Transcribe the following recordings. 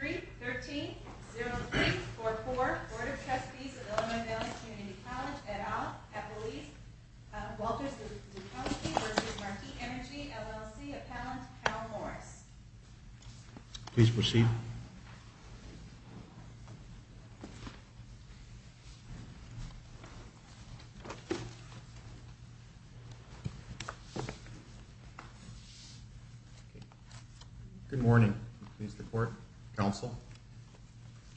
3-13-03-44 Board of Trustees of Illinois Valley Community College, et al., at the lease, Walters v. Marquis Energy, LLC, appellant, Carol Morris. Please proceed. Good morning. I'm pleased to court. Counsel?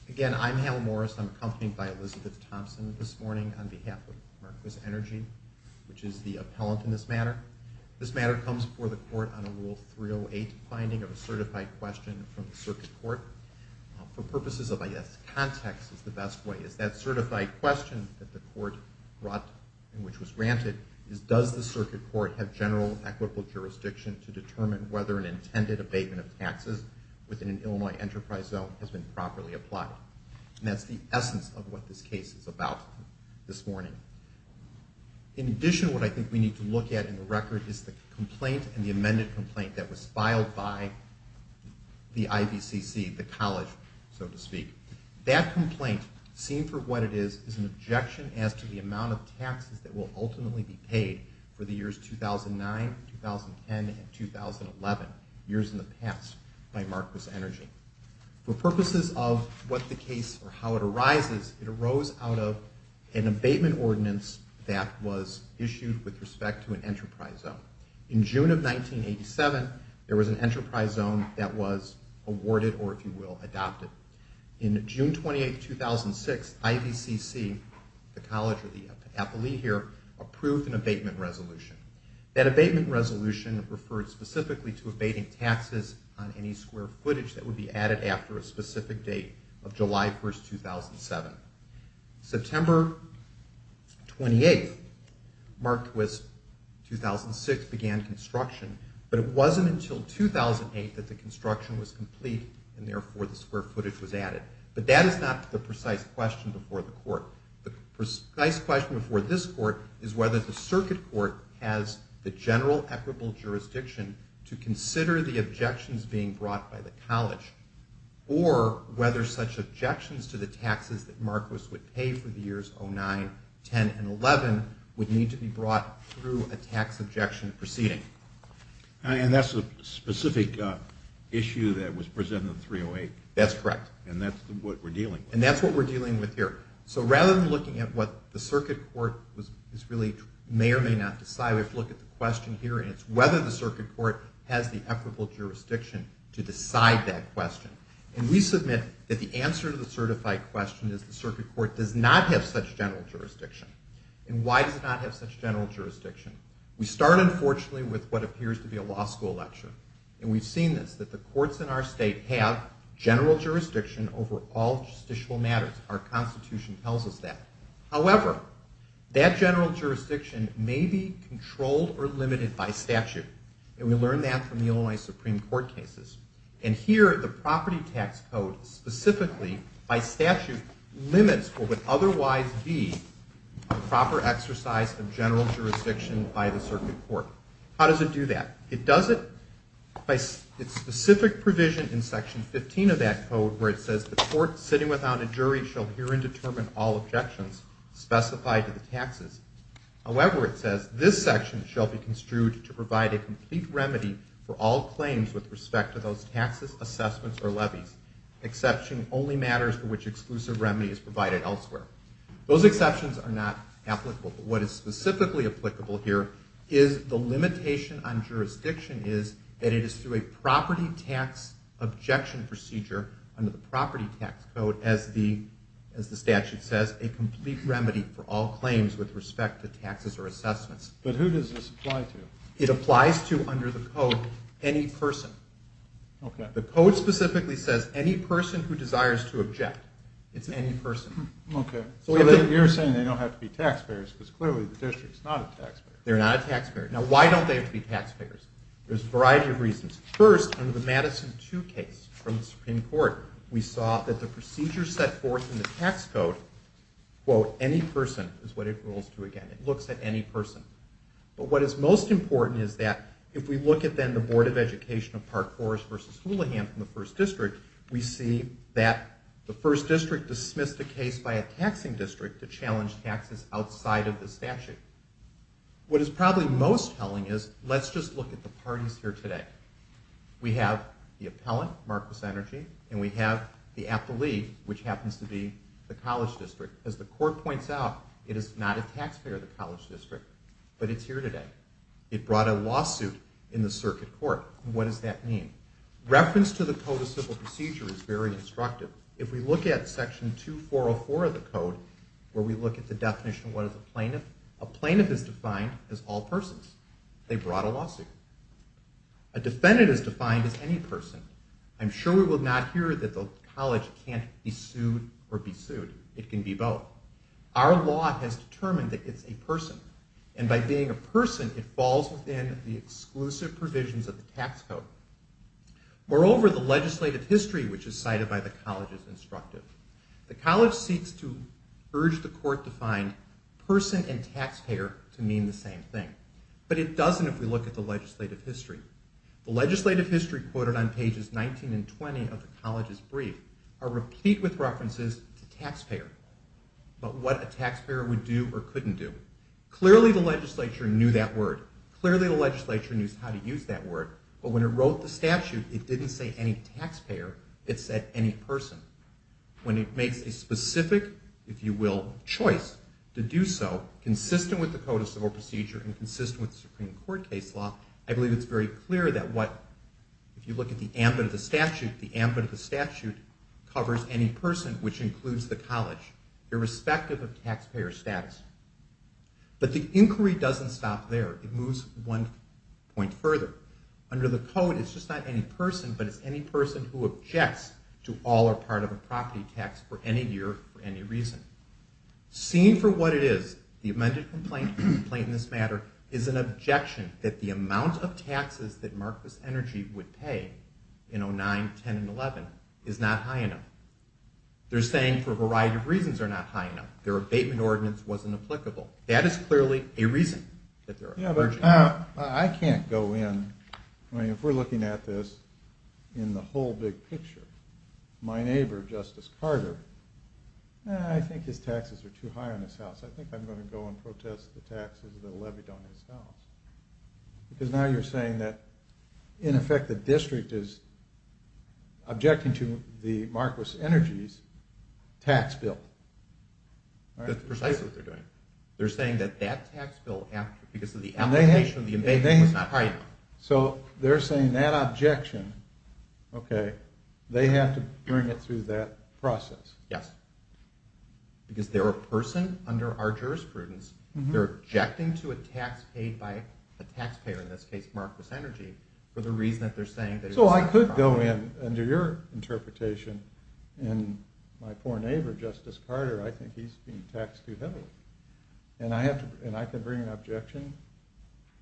Again, I'm Hal Morris. I'm accompanied by Elizabeth Thompson this morning on behalf of Marquis Energy, which is the appellant in this matter. This matter comes before the court on a Rule 308 finding of a certified question from the circuit court. For purposes of, I guess, context is the best way, is that certified question that the court brought, and which was granted, is does the circuit court have general equitable jurisdiction to determine whether an intended abatement of taxes within an Illinois enterprise zone has been properly applied. And that's the essence of what this case is about this morning. In addition, what I think we need to look at in the record is the complaint and the amended complaint that was filed by the IBCC, the college, so to speak. That complaint, seen for what it is, is an objection as to the amount of taxes that will ultimately be paid for the years 2009, 2010, and 2011, years in the past, by Marquis Energy. For purposes of what the case, or how it arises, it arose out of an abatement ordinance that was issued with respect to an enterprise zone. In June of 1987, there was an enterprise zone that was awarded, or if you will, adopted. In June 28, 2006, IBCC, the college or the appellee here, approved an abatement resolution. That abatement resolution referred specifically to abating taxes on any square footage that would be added after a specific date of July 1, 2007. September 28, Marquis 2006 began construction, but it wasn't until 2008 that the construction was complete and therefore the square footage was added. But that is not the precise question before the court. The precise question before this court is whether the circuit court has the general equitable jurisdiction to consider the objections being brought by the college, or whether such objections to the taxes that Marquis would pay for the years 2009, 2010, and 2011 would need to be brought through a tax objection proceeding. And that's a specific issue that was presented in 308. That's correct. And that's what we're dealing with. So rather than looking at what the circuit court may or may not decide, we have to look at the question here, and it's whether the circuit court has the equitable jurisdiction to decide that question. And we submit that the answer to the certified question is the circuit court does not have such general jurisdiction. And why does it not have such general jurisdiction? We start, unfortunately, with what appears to be a law school lecture. And we've seen this, that the courts in our state have general jurisdiction over all justicial matters. Our Constitution tells us that. However, that general jurisdiction may be controlled or limited by statute. And we learned that from the Illinois Supreme Court cases. And here, the property tax code specifically, by statute, limits what would otherwise be a proper exercise of general jurisdiction by the circuit court. How does it do that? It does it by its specific provision in Section 15 of that code where it says, the court sitting without a jury shall herein determine all objections specified to the taxes. However, it says, this section shall be construed to provide a complete remedy for all claims with respect to those taxes, assessments, or levies. Exception only matters for which exclusive remedy is provided elsewhere. Those exceptions are not applicable. What is specifically applicable here is the limitation on jurisdiction is that it is through a property tax objection procedure under the property tax code, as the statute says, a complete remedy for all claims with respect to taxes or assessments. But who does this apply to? It applies to, under the code, any person. The code specifically says, any person who desires to object. It's any person. Okay. So you're saying they don't have to be taxpayers because clearly the district is not a taxpayer. They're not a taxpayer. Now, why don't they have to be taxpayers? There's a variety of reasons. First, under the Madison 2 case from the Supreme Court, we saw that the procedure set forth in the tax code, quote, any person is what it rolls to again. It looks at any person. But what is most important is that if we look at, then, the Board of Education of Park Forest v. Houlihan from the First District, we see that the First District dismissed the case by a taxing district to challenge taxes outside of the statute. What is probably most telling is let's just look at the parties here today. We have the appellant, Marcus Energi, and we have the appellee, which happens to be the College District. As the court points out, it is not a taxpayer, the College District, but it's here today. It brought a lawsuit in the circuit court. What does that mean? Reference to the Code of Civil Procedure is very instructive. If we look at Section 2404 of the Code, where we look at the definition of what is a plaintiff, a plaintiff is defined as all persons. They brought a lawsuit. A defendant is defined as any person. I'm sure we will not hear that the college can't be sued or be sued. It can be both. Our law has determined that it's a person. And by being a person, it falls within the exclusive provisions of the tax code. Moreover, the legislative history, which is cited by the college, is instructive. The college seeks to urge the court to find person and taxpayer to mean the same thing. But it doesn't if we look at the legislative history. The legislative history quoted on pages 19 and 20 of the college's brief are replete with references to taxpayer, but what a taxpayer would do or couldn't do. Clearly, the legislature knew that word. Clearly, the legislature knew how to use that word. But when it wrote the statute, it didn't say any taxpayer. It said any person. When it makes a specific, if you will, choice to do so, consistent with the Code of Civil Procedure and consistent with the Supreme Court case law, I believe it's very clear that what, if you look at the ambit of the statute, the ambit of the statute covers any person, which includes the college, irrespective of taxpayer status. But the inquiry doesn't stop there. It moves one point further. Under the code, it's just not any person, but it's any person who objects to all or part of a property tax for any year for any reason. Seen for what it is, the amended complaint in this matter is an objection that the amount of taxes that Marquess Energy would pay in 09, 10, and 11 is not high enough. They're saying for a variety of reasons they're not high enough. Their abatement ordinance wasn't applicable. That is clearly a reason that they're objecting. Yeah, but I can't go in, I mean, if we're looking at this in the whole big picture, my neighbor, Justice Carter, I think his taxes are too high on his house. I think I'm going to go and protest the taxes that are levied on his house. Because now you're saying that, in effect, the district is objecting to the Marquess Energy's tax bill. That's precisely what they're doing. They're saying that that tax bill, because of the application of the amendment, was not high enough. So they're saying that objection, okay, they have to bring it through that process. Yes. Because they're a person under our jurisprudence. They're objecting to a tax paid by a taxpayer, in this case Marquess Energy, for the reason that they're saying that it's not high enough. So I could go in, under your interpretation, and my poor neighbor, Justice Carter, I think he's being taxed too heavily. And I can bring an objection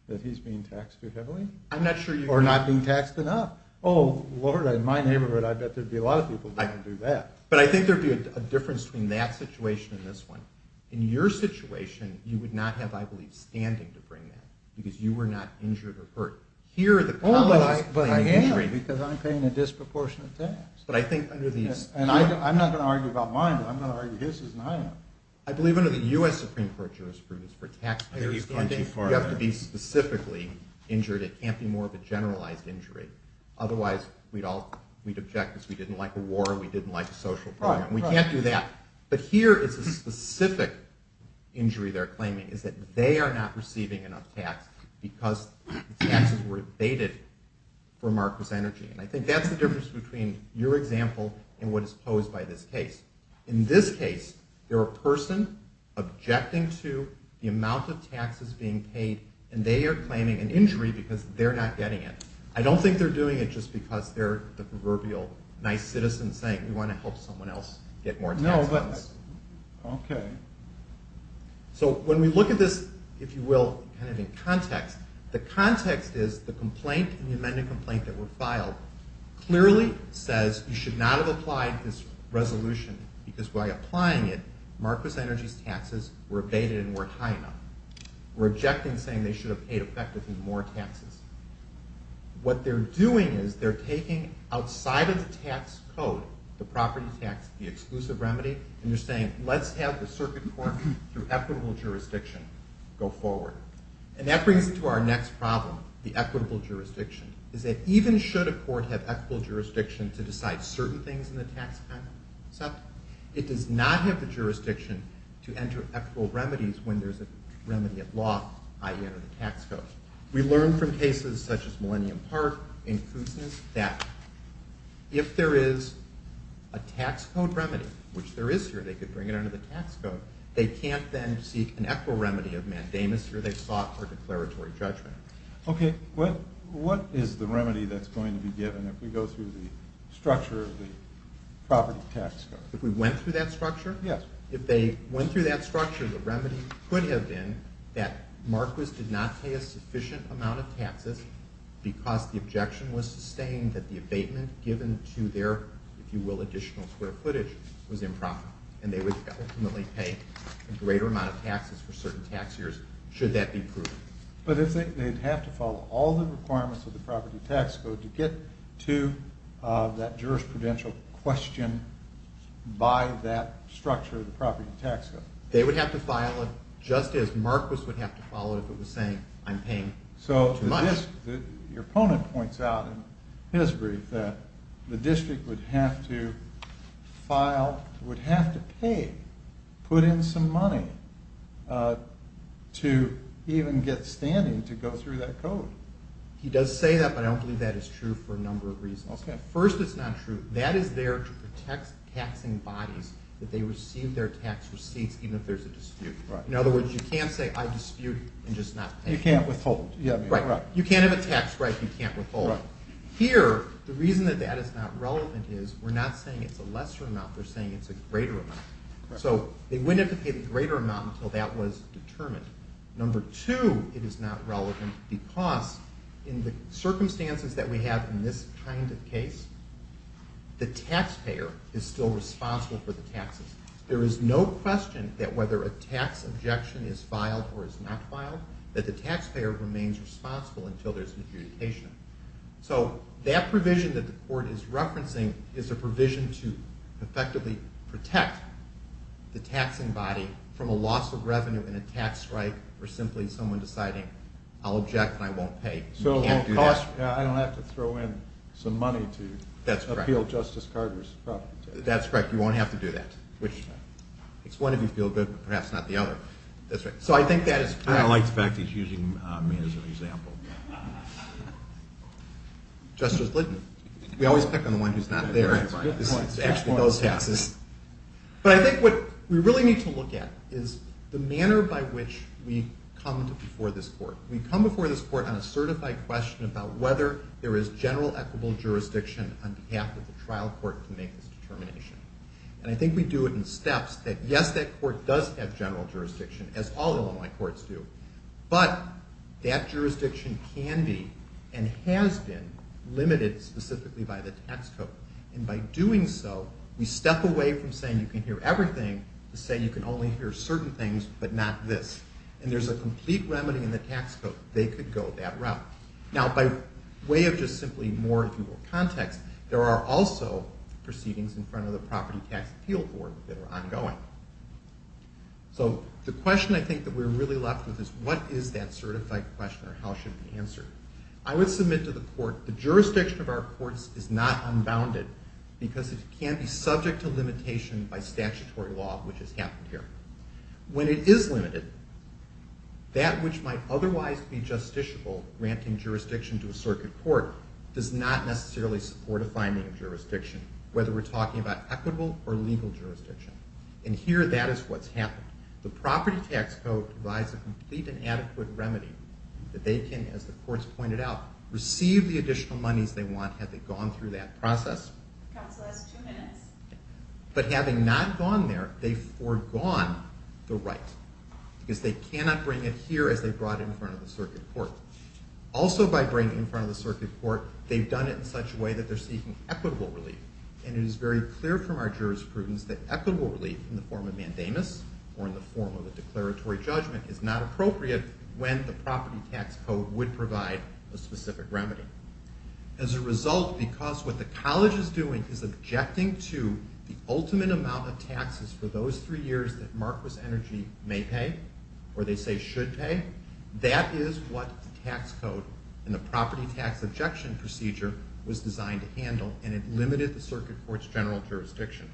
that he's being taxed too heavily? I'm not sure you can. Or not being taxed enough. Oh, Lord, in my neighborhood, I bet there'd be a lot of people that can do that. But I think there'd be a difference between that situation and this one. In your situation, you would not have, I believe, standing to bring that, because you were not injured or hurt. Oh, I am, because I'm paying a disproportionate tax. And I'm not going to argue about mine, but I'm going to argue his is not enough. I believe under the U.S. Supreme Court jurisprudence, for taxpayers standing, you have to be specifically injured. It can't be more of a generalized injury. Otherwise, we'd object because we didn't like a war, we didn't like a social problem. We can't do that. But here, it's a specific injury they're claiming, is that they are not receiving enough tax because taxes were evaded from our percentage. And I think that's the difference between your example and what is posed by this case. In this case, you're a person objecting to the amount of taxes being paid, and they are claiming an injury because they're not getting it. I don't think they're doing it just because they're the proverbial nice citizen saying, we want to help someone else get more taxes. No, but, okay. So when we look at this, if you will, kind of in context, the context is the complaint, the amended complaint that were filed, clearly says you should not have applied this resolution, because by applying it, Marcos Energy's taxes were evaded and weren't high enough. We're objecting saying they should have paid effectively more taxes. What they're doing is they're taking outside of the tax code, the property tax, the exclusive remedy, and they're saying, let's have the circuit court through equitable jurisdiction go forward. And that brings us to our next problem, the equitable jurisdiction. Is that even should a court have equitable jurisdiction to decide certain things in the tax code? It does not have the jurisdiction to enter equitable remedies when there's a remedy at law, i.e. under the tax code. We learned from cases such as Millennium Park in Kootenai that if there is a tax code remedy, which there is here, they could bring it under the tax code, they can't then seek an equitable remedy of mandamus, or they've sought for declaratory judgment. Okay, what is the remedy that's going to be given if we go through the structure of the property tax code? If we went through that structure? Yes. If they went through that structure, the remedy could have been that Marquis did not pay a sufficient amount of taxes because the objection was sustained that the abatement given to their, if you will, additional square footage was improper, and they would ultimately pay a greater amount of taxes for certain tax years should that be proven. But if they'd have to follow all the requirements of the property tax code to get to that jurisprudential question by that structure of the property tax code? They would have to file it just as Marquis would have to follow it if it was saying I'm paying too much. So your opponent points out in his brief that the district would have to file, would have to pay, put in some money to even get standing to go through that code. He does say that, but I don't believe that is true for a number of reasons. First, it's not true. That is there to protect taxing bodies that they receive their tax receipts even if there's a dispute. In other words, you can't say I dispute and just not pay. You can't withhold. Right. You can't have a tax break. You can't withhold. Here, the reason that that is not relevant is we're not saying it's a lesser amount. We're saying it's a greater amount. So they wouldn't have to pay the greater amount until that was determined. Number two, it is not relevant because in the circumstances that we have in this kind of case, the taxpayer is still responsible for the taxes. There is no question that whether a tax objection is filed or is not filed, that the taxpayer remains responsible until there's an adjudication. So that provision that the court is referencing is a provision to effectively protect the taxing body from a loss of revenue in a tax strike or simply someone deciding I'll object and I won't pay. So I don't have to throw in some money to appeal Justice Carter's proposition. That's correct. You won't have to do that. It's one if you feel good, but perhaps not the other. So I think that is correct. I like the fact that he's using me as an example. Justice, we always pick on the one who's not there. It's actually those taxes. But I think what we really need to look at is the manner by which we come before this court. We come before this court on a certified question about whether there is general equitable jurisdiction on behalf of the trial court to make this determination. And I think we do it in steps that yes, that court does have general jurisdiction, as all Illinois courts do, but that jurisdiction can be and has been limited specifically by the tax code. And by doing so, we step away from saying you can hear everything to say you can only hear certain things but not this. And there's a complete remedy in the tax code. They could go that route. Now, by way of just simply more, if you will, context, there are also proceedings in front of the Property Tax Appeal Board that are ongoing. So the question I think that we're really left with is what is that certified question or how should it be answered? I would submit to the court the jurisdiction of our courts is not unbounded because it can be subject to limitation by statutory law, which has happened here. When it is limited, that which might otherwise be justiciable, granting jurisdiction to a circuit court, does not necessarily support a finding of jurisdiction, whether we're talking about equitable or legal jurisdiction. And here that is what's happened. The Property Tax Code provides a complete and adequate remedy that they can, as the courts pointed out, receive the additional monies they want had they gone through that process. But having not gone there, they've foregone the right because they cannot bring it here as they brought it in front of the circuit court. Also by bringing it in front of the circuit court, they've done it in such a way that they're seeking equitable relief. And it is very clear from our jurisprudence that equitable relief in the form of mandamus or in the form of a declaratory judgment is not appropriate when the Property Tax Code would provide a specific remedy. As a result, because what the College is doing is objecting to the ultimate amount of taxes for those three years that Marquess Energy may pay or they say should pay, that is what the Tax Code and the Property Tax Objection Procedure was designed to handle, and it limited the circuit court's general jurisdiction.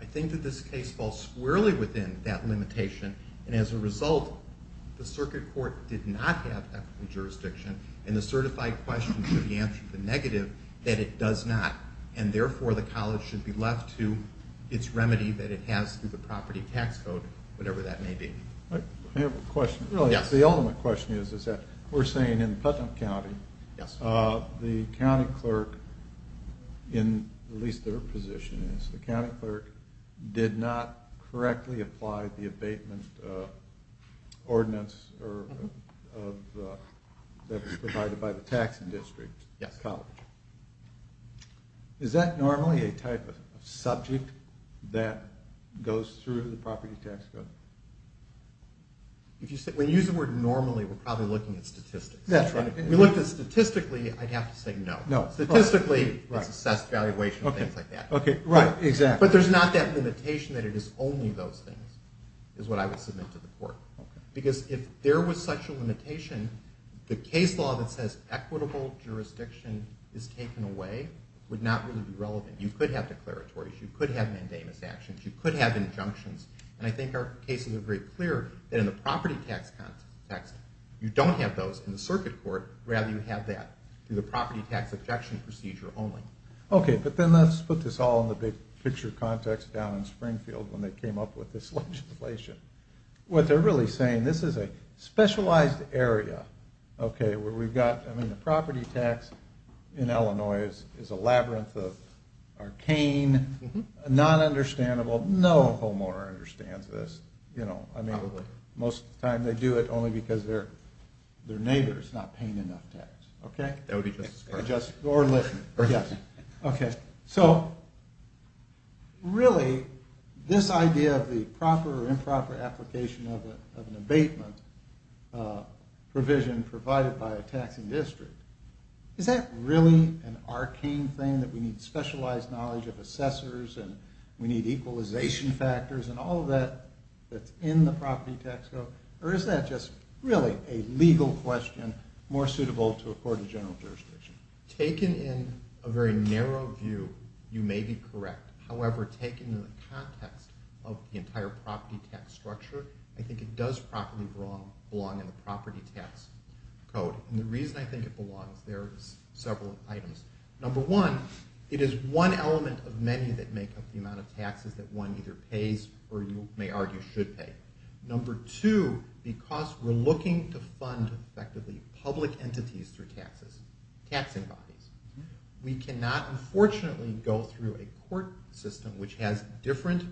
I think that this case falls squarely within that limitation, and as a result, the circuit court did not have that jurisdiction, and the certified question should be answered to the negative that it does not, and therefore the College should be left to its remedy that it has through the Property Tax Code, whatever that may be. I have a question. The ultimate question is that we're saying in Putnam County, the county clerk, in at least their position, the county clerk did not correctly apply the abatement ordinance that was provided by the tax district to the College. Is that normally a type of subject that goes through the Property Tax Code? When you use the word normally, we're probably looking at statistics. Statistically, I'd have to say no. Statistically, it's assessed valuation and things like that. But there's not that limitation that it is only those things is what I would submit to the court, because if there was such a limitation, the case law that says equitable jurisdiction is taken away would not really be relevant. You could have declaratories. You could have mandamus actions. You could have injunctions, and I think our cases are very clear that in the property tax context, you don't have those, in the circuit court, rather you have that, through the property tax objection procedure only. Okay, but then let's put this all in the big picture context down in Springfield when they came up with this legislation. What they're really saying, this is a specialized area, okay, where we've got, I mean, the property tax in Illinois is a labyrinth of arcane, non-understandable. No homeowner understands this. Most of the time they do it only because their neighbor is not paying enough tax, okay? That would be just as correct. Okay, so really this idea of the proper or improper application of an abatement provision provided by a taxing district, is that really an arcane thing that we need specialized knowledge of assessors and we need equalization factors and all of that that's in the property tax code, or is that just really a legal question more suitable to a court of general jurisdiction? Taken in a very narrow view, you may be correct. However, taken in the context of the entire property tax structure, I think it does properly belong in the property tax code. And the reason I think it belongs, there are several items. Number one, it is one element of many that make up the amount of taxes that one either pays or you may argue should pay. Number two, because we're looking to fund effectively public entities through taxes, taxing bodies. We cannot, unfortunately, go through a court system which has different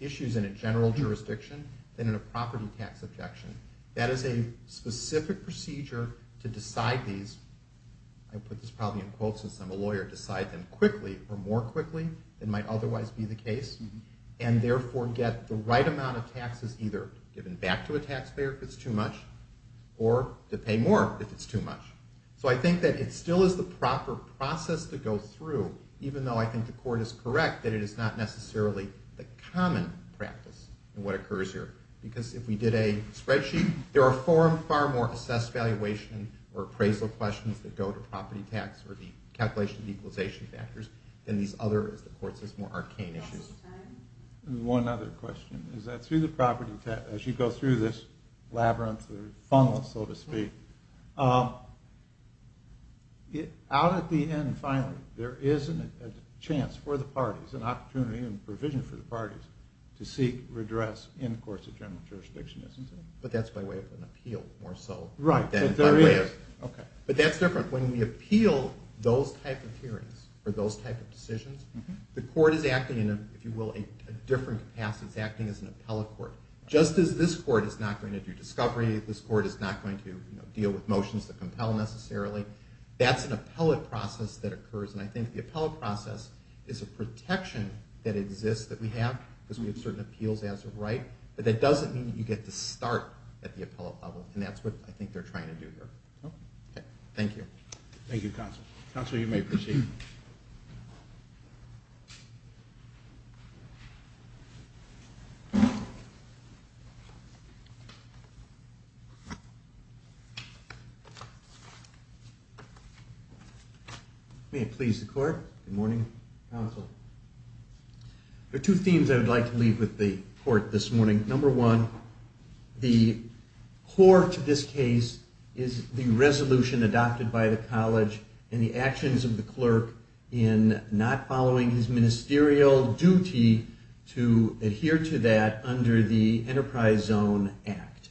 issues in a general jurisdiction than in a property tax objection. That is a specific procedure to decide these. I put this probably in quotes since I'm a lawyer, decide them quickly or more quickly than might otherwise be the case and therefore get the right amount of taxes either given back to a taxpayer if it's too much or to pay more if it's too much. So I think that it still is the proper process to go through, even though I think the court is correct that it is not necessarily the common practice in what occurs here. Because if we did a spreadsheet, there are far more assessed valuation or appraisal questions that go to property tax or the calculation of equalization factors than these other, as the court says, more arcane issues. One other question is that through the property tax, as you go through this labyrinth or funnel, so to speak, out at the end, finally, there is a chance for the parties, an opportunity and provision for the parties to seek redress in courts of general jurisdiction, isn't it? But that's by way of an appeal more so. Right, but there is. But that's different. When we appeal those type of hearings or those type of decisions, the court is acting in, if you will, a different capacity. It's acting as an appellate court. Just as this court is not going to do discovery, this court is not going to deal with motions that compel necessarily, that's an appellate process that occurs, and I think the appellate process is a protection that exists that we have because we have certain appeals as a right, but that doesn't mean you get to start at the appellate level, and that's what I think they're trying to do here. Okay. Thank you. Thank you, Counsel. Counsel, you may proceed. May it please the Court. Good morning, Counsel. There are two themes I would like to leave with the Court this morning. Number one, the core to this case is the resolution adopted by the college and the actions of the clerk in not following his ministerial duty to adhere to that under the Enterprise Zone Act.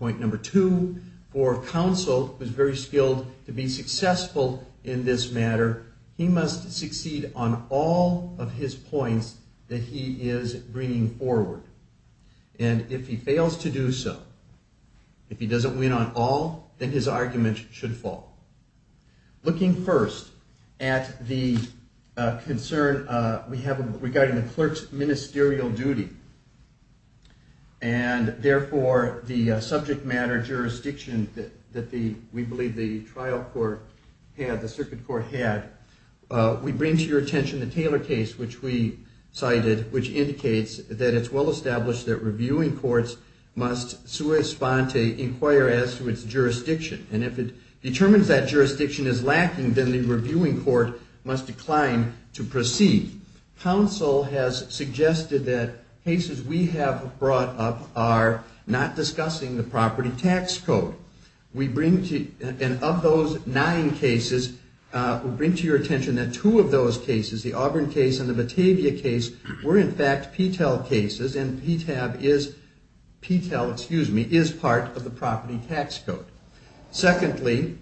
Point number two, for Counsel, who is very skilled to be successful in this matter, he must succeed on all of his points that he is bringing forward, and if he fails to do so, if he doesn't win on all, then his argument should fall. Looking first at the concern we have regarding the clerk's ministerial duty and, therefore, the subject matter jurisdiction that we believe the trial court had, the circuit court had, we bring to your attention the Taylor case, which we cited, which indicates that it's well established that reviewing courts must sua sponte, inquire as to its jurisdiction, and if it determines that jurisdiction is lacking, then the reviewing court must decline to proceed. Counsel has suggested that cases we have brought up are not discussing the property tax code. Of those nine cases, we bring to your attention that two of those cases, the Auburn case and the Batavia case, were, in fact, PTAL cases, and PTAL is part of the property tax code. Secondly,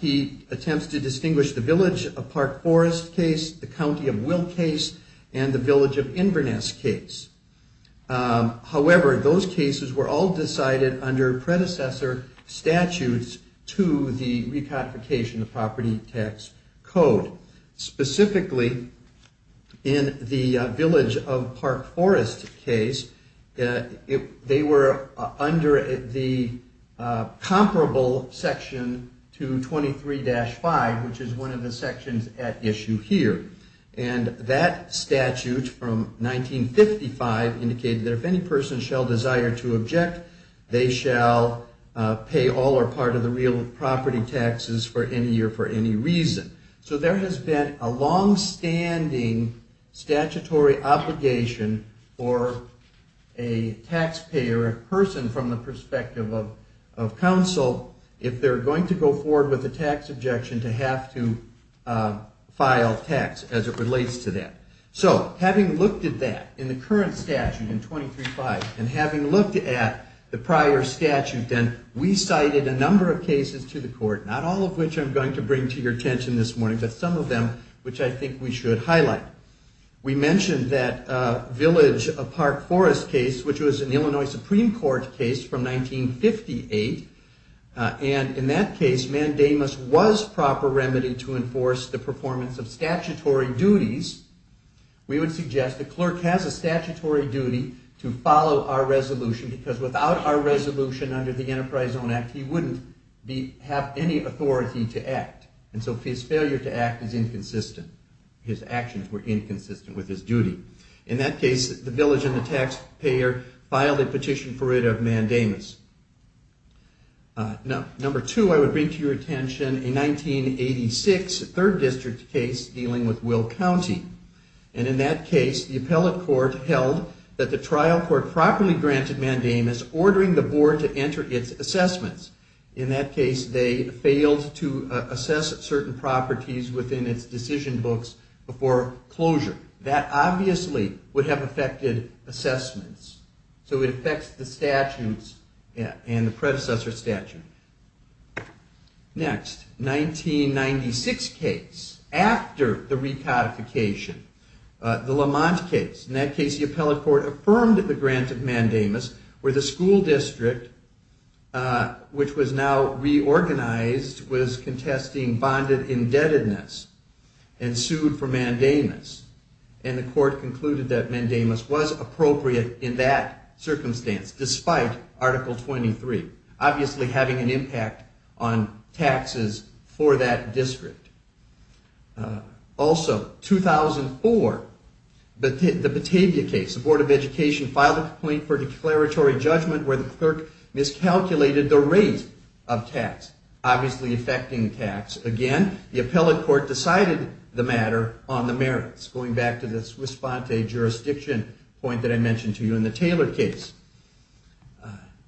he attempts to distinguish the Village of Park Forest case, the County of Will case, and the Village of Inverness case. However, those cases were all decided under predecessor statutes to the recodification of property tax code. Specifically, in the Village of Park Forest case, they were under the comparable section to 23-5, which is one of the sections at issue here, and that statute from 1955 indicated that if any person shall desire to object, they shall pay all or part of the real property taxes for any year for any reason. So there has been a longstanding statutory obligation for a taxpayer person from the perspective of counsel if they're going to go forward with a tax objection to have to file tax as it relates to that. So having looked at that in the current statute in 23-5, and having looked at the prior statute, then we cited a number of cases to the court, not all of which I'm going to bring to your attention this morning, but some of them which I think we should highlight. We mentioned that Village of Park Forest case, which was an Illinois Supreme Court case from 1958, and in that case, mandamus was proper remedy to enforce the performance of statutory duties. We would suggest the clerk has a statutory duty to follow our resolution because without our resolution under the Enterprise Zone Act, he wouldn't have any authority to act. And so his failure to act is inconsistent. His actions were inconsistent with his duty. In that case, the village and the taxpayer filed a petition for rid of mandamus. Number two, I would bring to your attention a 1986 Third District case dealing with Will County. And in that case, the appellate court held that the trial court properly granted mandamus, ordering the board to enter its assessments. In that case, they failed to assess certain properties within its decision books before closure. That obviously would have affected assessments. So it affects the statutes and the predecessor statute. Next, 1996 case, after the recodification, the Lamont case. In that case, the appellate court affirmed the grant of mandamus where the school district, which was now reorganized, was contesting bonded indebtedness and sued for mandamus. And the court concluded that mandamus was appropriate in that circumstance, despite Article 23, obviously having an impact on taxes for that district. Also, 2004, the Batavia case, the Board of Education filed a complaint for declaratory judgment where the clerk miscalculated the rate of tax, obviously affecting tax. Again, the appellate court decided the matter on the merits, going back to the Swiss Bonte jurisdiction point that I mentioned to you in the Taylor case.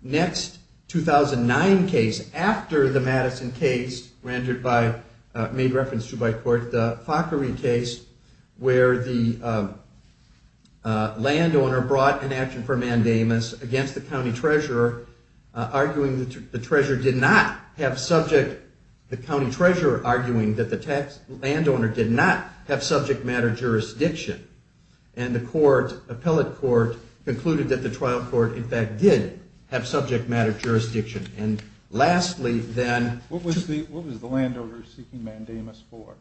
Next, 2009 case, after the Madison case rendered by, made reference to by court, the Fockery case, where the landowner brought an action for mandamus against the county treasurer, arguing that the treasurer did not have subject, the county treasurer arguing that the tax landowner did not have subject matter jurisdiction. And the court, appellate court concluded that the trial court in fact did have subject matter jurisdiction. And lastly, then what was the, what was the landowner seeking mandamus for?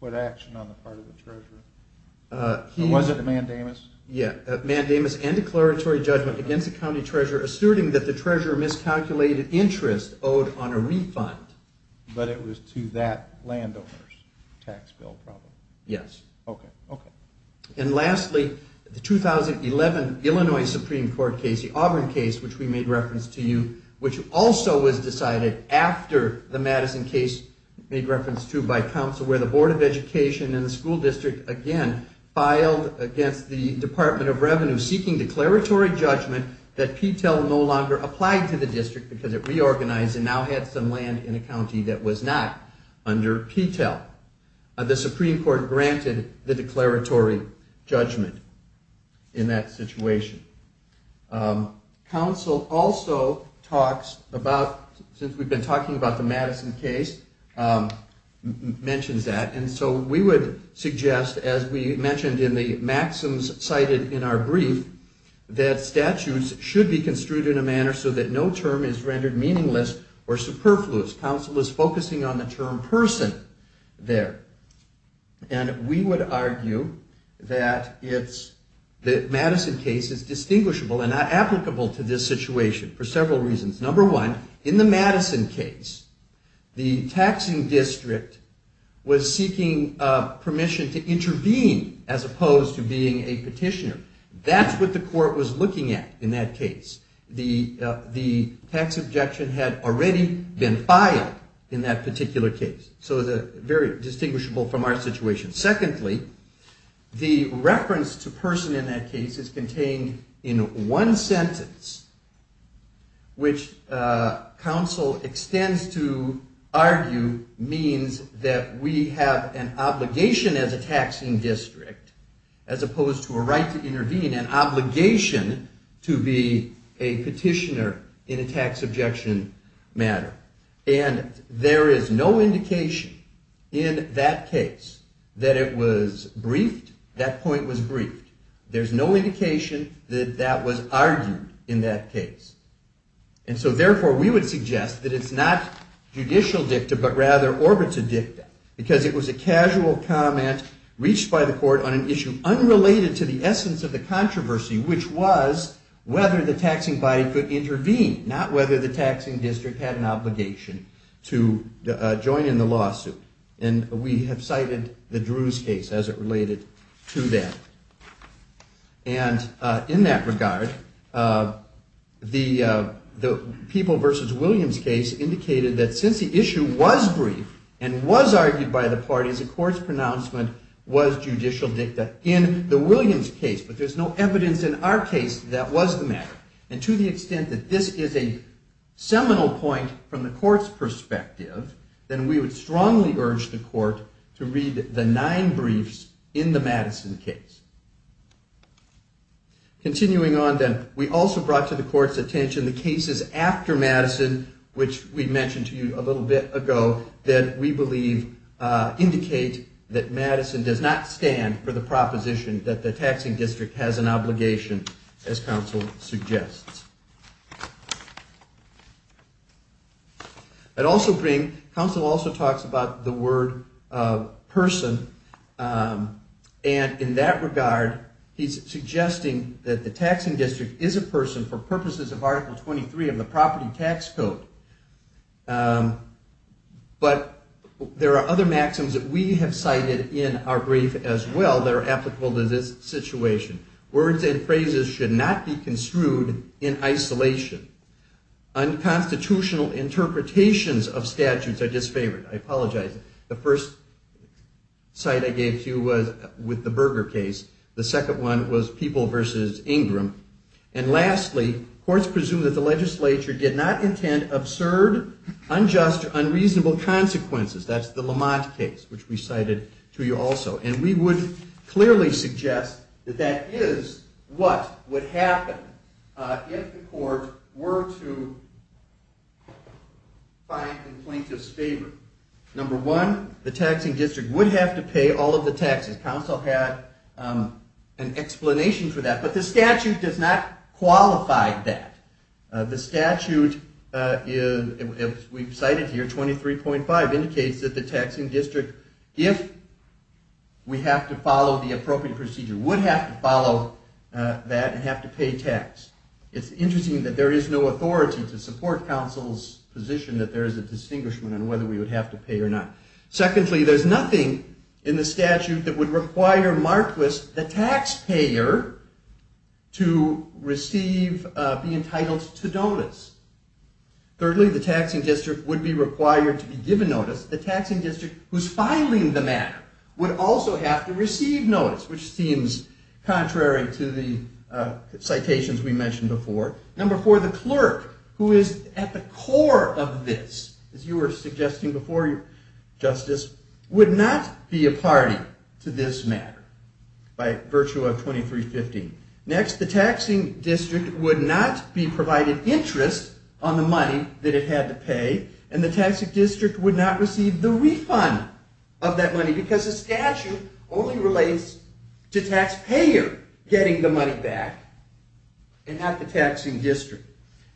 What action on the part of the treasurer? It wasn't a mandamus. Yeah. Mandamus and declaratory judgment against the county treasurer, asserting that the treasurer miscalculated interest owed on a refund. But it was to that landowner's tax bill problem. Yes. Okay. Okay. And lastly, the 2011 Illinois Supreme court case, the Auburn case, which we made reference to you, which also was decided after the Madison case made reference to by council, where the board of education and the school district, again, filed against the department of revenue, seeking declaratory judgment that P-TEL no longer applied to the district because it reorganized and now had some land in a county that was not under P-TEL. The Supreme court granted the declaratory judgment in that situation. Council also talks about, since we've been talking about the Madison case, mentions that. And so we would suggest, as we mentioned in the maxims cited in our brief, that statutes should be construed in a manner so that no term is rendered meaningless or superfluous. Council is focusing on the term person there. And we would argue that the Madison case is distinguishable and not applicable to this situation for several reasons. Number one, in the Madison case, the taxing district was seeking permission to intervene as opposed to being a petitioner. That's what the court was looking at in that case. The tax objection had already been filed in that particular case. So it's very distinguishable from our situation. Secondly, the reference to person in that case is contained in one sentence, which council extends to argue means that we have an obligation as a taxing district, as opposed to a right to intervene and obligation to be a petitioner in a tax objection matter. And there is no indication in that case that it was briefed. That point was briefed. There's no indication that that was argued in that case. And so therefore we would suggest that it's not judicial dicta, but rather orbits a dicta because it was a casual comment reached by the court on an issue unrelated to the essence of the controversy, which was whether the taxing body could intervene, not whether the taxing district had an obligation to join in the lawsuit. And we have cited the Drew's case as it related to that. And in that regard, the people versus Williams case indicated that since the issue was brief and was argued by the parties, the court's pronouncement was judicial dicta in the Williams case, but there's no evidence in our case that was the matter. And to the extent that this is a seminal point from the court's perspective, then we would strongly urge the court to read the nine briefs in the Madison case. Continuing on then, we also brought to the court's attention the cases after Madison, which we mentioned to you a little bit ago, that we believe indicate that Madison does not stand for the proposition that the taxing district has an obligation as counsel suggests. I'd also bring, in that regard, he's suggesting that the taxing district is a person for purposes of article 23 of the property tax code. But there are other maxims that we have cited in our brief as well that are applicable to this situation. Words and phrases should not be construed in isolation. Unconstitutional interpretations of statutes are disfavored. I apologize. The first site I gave to you was with the Berger case. The second one was people versus Ingram. And lastly, courts presume that the legislature did not intend absurd, unjust, unreasonable consequences. That's the Lamont case, which we cited to you also. And we would clearly suggest that that is what would happen if the court were to find the plaintiff's favor. Number one, the taxing district would have to pay all of the taxes. Counsel had an explanation for that, but the statute does not qualify that. The statute is, we've cited here 23.5 indicates that the taxing district, if we have to follow the appropriate procedure, would have to follow that and have to pay tax. It's interesting that there is no authority to support counsel's position, that there is a distinguishment on whether we would have to pay or not. Secondly, there's nothing in the statute that would require Marquis, the taxpayer to receive, be entitled to donors. Thirdly, the taxing district would be required to be given notice. The taxing district who's filing the matter would also have to receive notice, which seems contrary to the citations we mentioned before. Number four, the clerk who is at the core of this, as you were suggesting before, justice would not be a party to this matter by virtue of 23.5. Next, the taxing district would not be provided interest on the money that it had to pay. And the taxing district would not receive the refund of that money because the statute only relates to taxpayer getting the money back and not the taxing district.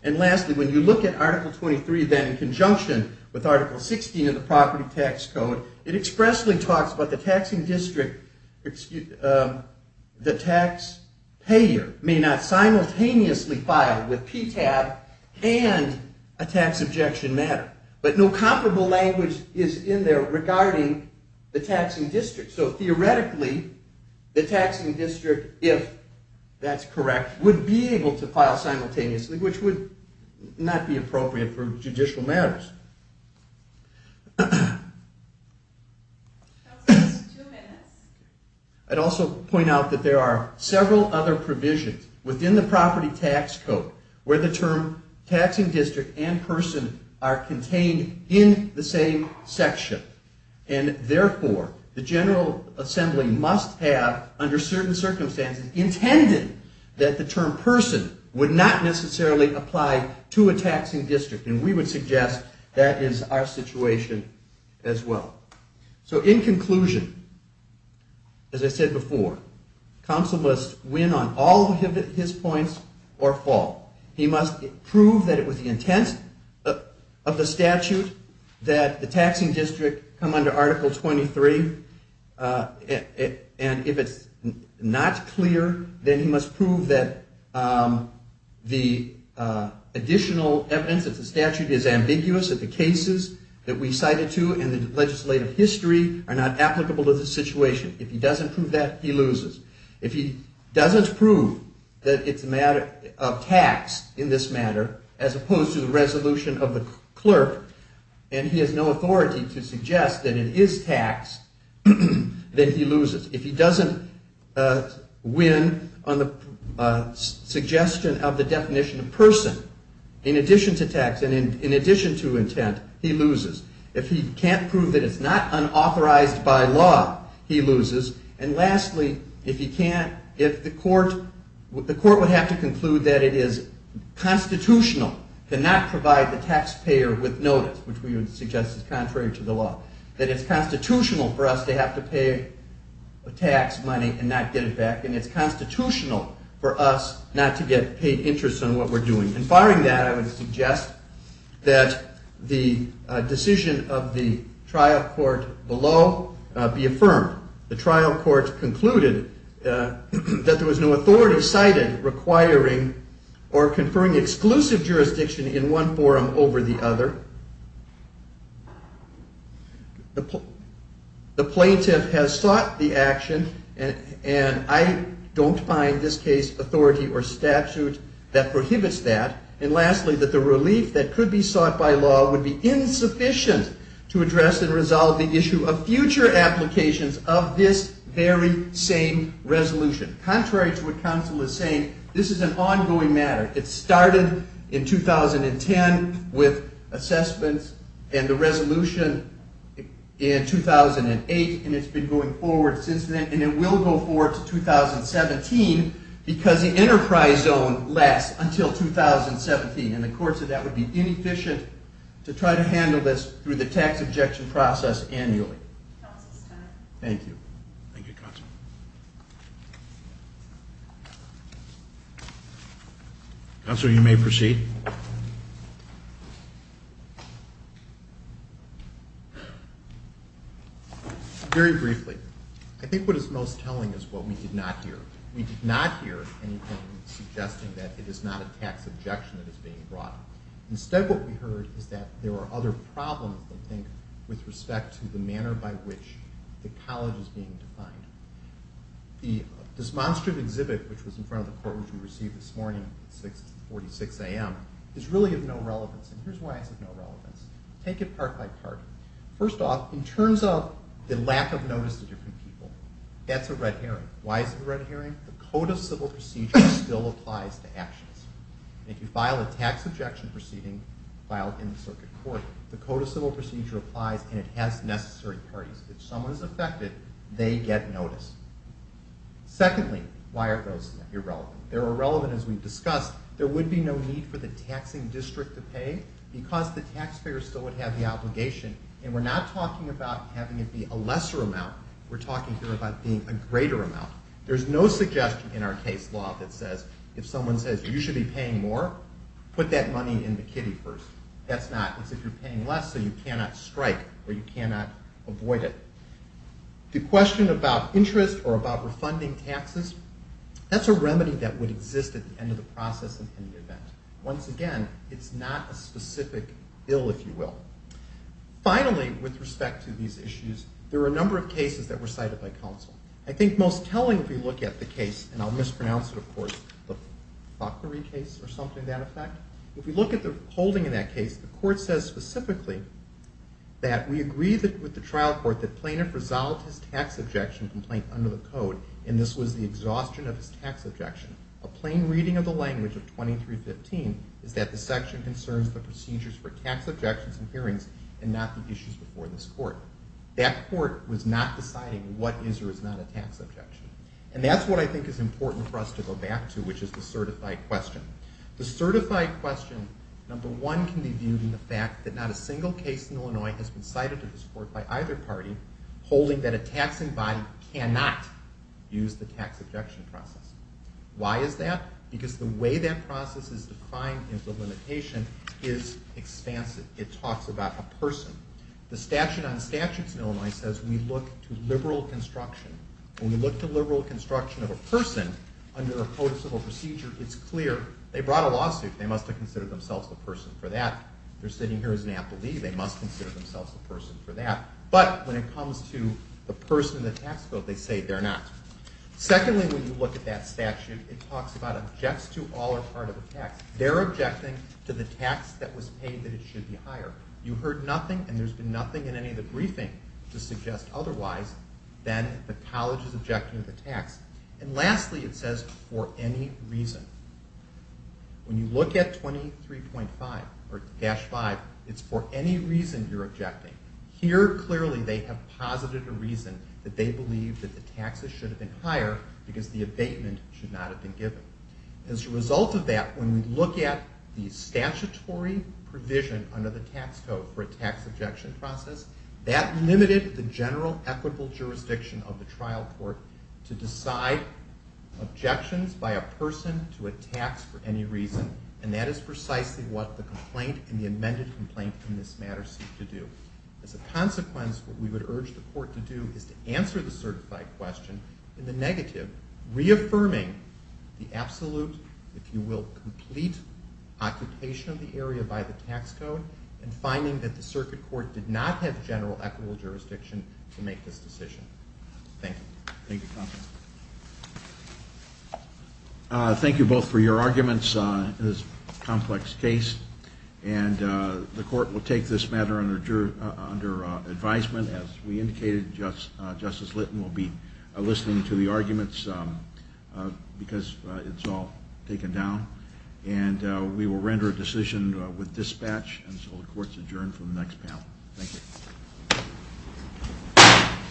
And lastly, when you look at article 23, then in conjunction with article 16 of the property tax code, it expressly talks about the taxing district, the tax payer may not simultaneously file with PTAB and a tax objection matter, but no comparable language is in there regarding the taxing district. So theoretically the taxing district, if that's correct, would be able to file simultaneously, which would not be appropriate for judicial matters. I'd also point out that there are several other provisions within the property tax code where the term taxing district and person are contained in the same section. And therefore the general assembly must have, under certain circumstances intended that the term person would not necessarily apply to a taxing district. And we would suggest that is our situation as well. So in conclusion, as I said before, counsel must win on all of his points or fall. He must prove that it was the intent of the statute that the taxing district come under article 23. And if it's not clear, then he must prove that the additional evidence that the statute is ambiguous at the cases that we cited to, and the legislative history are not applicable to the situation. If he doesn't prove that he loses. If he doesn't prove that it's a matter of tax in this matter, as opposed to the resolution of the clerk, and he has no authority to suggest that it is tax that he loses. If he doesn't win on the suggestion of the definition of person, in addition to tax and in addition to intent, he loses. If he can't prove that it's not unauthorized by law, he loses. And lastly, if he can't, if the court would have to conclude that it is constitutional to not provide the taxpayer with notice, which we would suggest is contrary to the law, that it's constitutional for us to have to pay a tax money and not get it back. And it's constitutional for us not to get paid interest in what we're doing. And firing that, I would suggest that the decision of the trial court below be affirmed. The trial court concluded that there was no authority cited requiring or prohibiting one over the other. The plaintiff has sought the action, and I don't find this case authority or statute that prohibits that. And lastly, that the relief that could be sought by law would be insufficient to address and resolve the issue of future applications of this very same resolution. Contrary to what counsel is saying, this is an ongoing matter. It started in 2010 with assessments and the resolution in 2008, and it's been going forward since then. And it will go forward to 2017 because the enterprise zone lasts until 2017. And the courts said that would be inefficient to try to handle this through the tax objection process annually. Counsel's time. Thank you. Thank you, counsel. Counsel, you may proceed. Very briefly. I think what is most telling is what we did not hear. We did not hear anything suggesting that it is not a tax objection that is being brought. Instead, what we heard is that there are other problems, I think, with respect to the manner by which the college is being defined. The demonstrative exhibit, which was in front of the court which we received this morning at 6.46 a.m., is really of no relevance. And here's why it's of no relevance. Take it part by part. First off, in terms of the lack of notice to different people, that's a red herring. Why is it a red herring? The Code of Civil Procedure still applies to actions. If you file a tax objection proceeding filed in the circuit court, the Code of Civil Procedure applies and it has necessary parties. If someone is affected, they get notice. Secondly, why are those irrelevant? They're irrelevant as we've discussed. There would be no need for the taxing district to pay because the taxpayer still would have the obligation. And we're not talking about having it be a lesser amount. We're talking here about being a greater amount. There's no suggestion in our case law that says if someone says, you should be paying more, put that money in the kitty first. That's not. It's if you're paying less so you cannot strike or you cannot avoid it. The question about interest or about refunding taxes, that's a remedy that would exist at the end of the process and in the event. Once again, it's not a specific bill, if you will. Finally, with respect to these issues, there are a number of cases that were cited by counsel. I think most telling, if you look at the case, and I'll mispronounce it, of course, the Fokkery case or something to that effect, if you look at the holding in that case, the court says specifically that we agree with the trial court that plaintiff resolved his tax objection complaint under the code and this was the exhaustion of his tax objection. A plain reading of the language of 2315 is that the section concerns the procedures for tax objections and hearings and not the issues before this court. That court was not deciding what is or is not a tax objection. And that's what I think is important for us to go back to, which is the certified question. The certified question, number one, can be viewed in the fact that not a single case in Illinois has been cited to this court by either party holding that a taxing body cannot use the tax objection process. Why is that? Because the way that process is defined in the limitation is expansive. It talks about a person. The statute on statutes in Illinois says we look to liberal construction. When we look to liberal construction of a person under a code of civil procedure, it's clear. They brought a lawsuit. They must have considered themselves a person for that. They're sitting here as an appellee. They must consider themselves a person for that. But when it comes to the person in the tax bill, they say they're not. Secondly, when you look at that statute, it talks about objects to all or part of a tax. They're objecting to the tax that was paid that it should be higher. You heard nothing, and there's been nothing in any of the briefing to suggest otherwise. Then the college is objecting to the tax. And lastly, it says for any reason. When you look at 23.5 or dash 5, it's for any reason you're objecting. Here, clearly, they have posited a reason that they believe that the taxes should have been higher because the abatement should not have been given. As a result of that, when we look at the statutory provision under the tax code for a tax objection process, that limited the general equitable jurisdiction of the trial court to decide objections by a person to a tax for any reason. And that is precisely what the complaint and the amended complaint in this matter seek to do. As a consequence, what we would urge the court to do is to answer the certified question in the negative, reaffirming the absolute, if you will, complete occupation of the area by the tax code and finding that the circuit court did not have general equitable jurisdiction to make this decision. Thank you. Thank you, counsel. Thank you both for your arguments in this complex case. And the court will take this matter under advisement. As we indicated, Justice Litton will be listening to the arguments because it's all taken down. And we will render a decision with dispatch until the court is adjourned for the next panel. Thank you.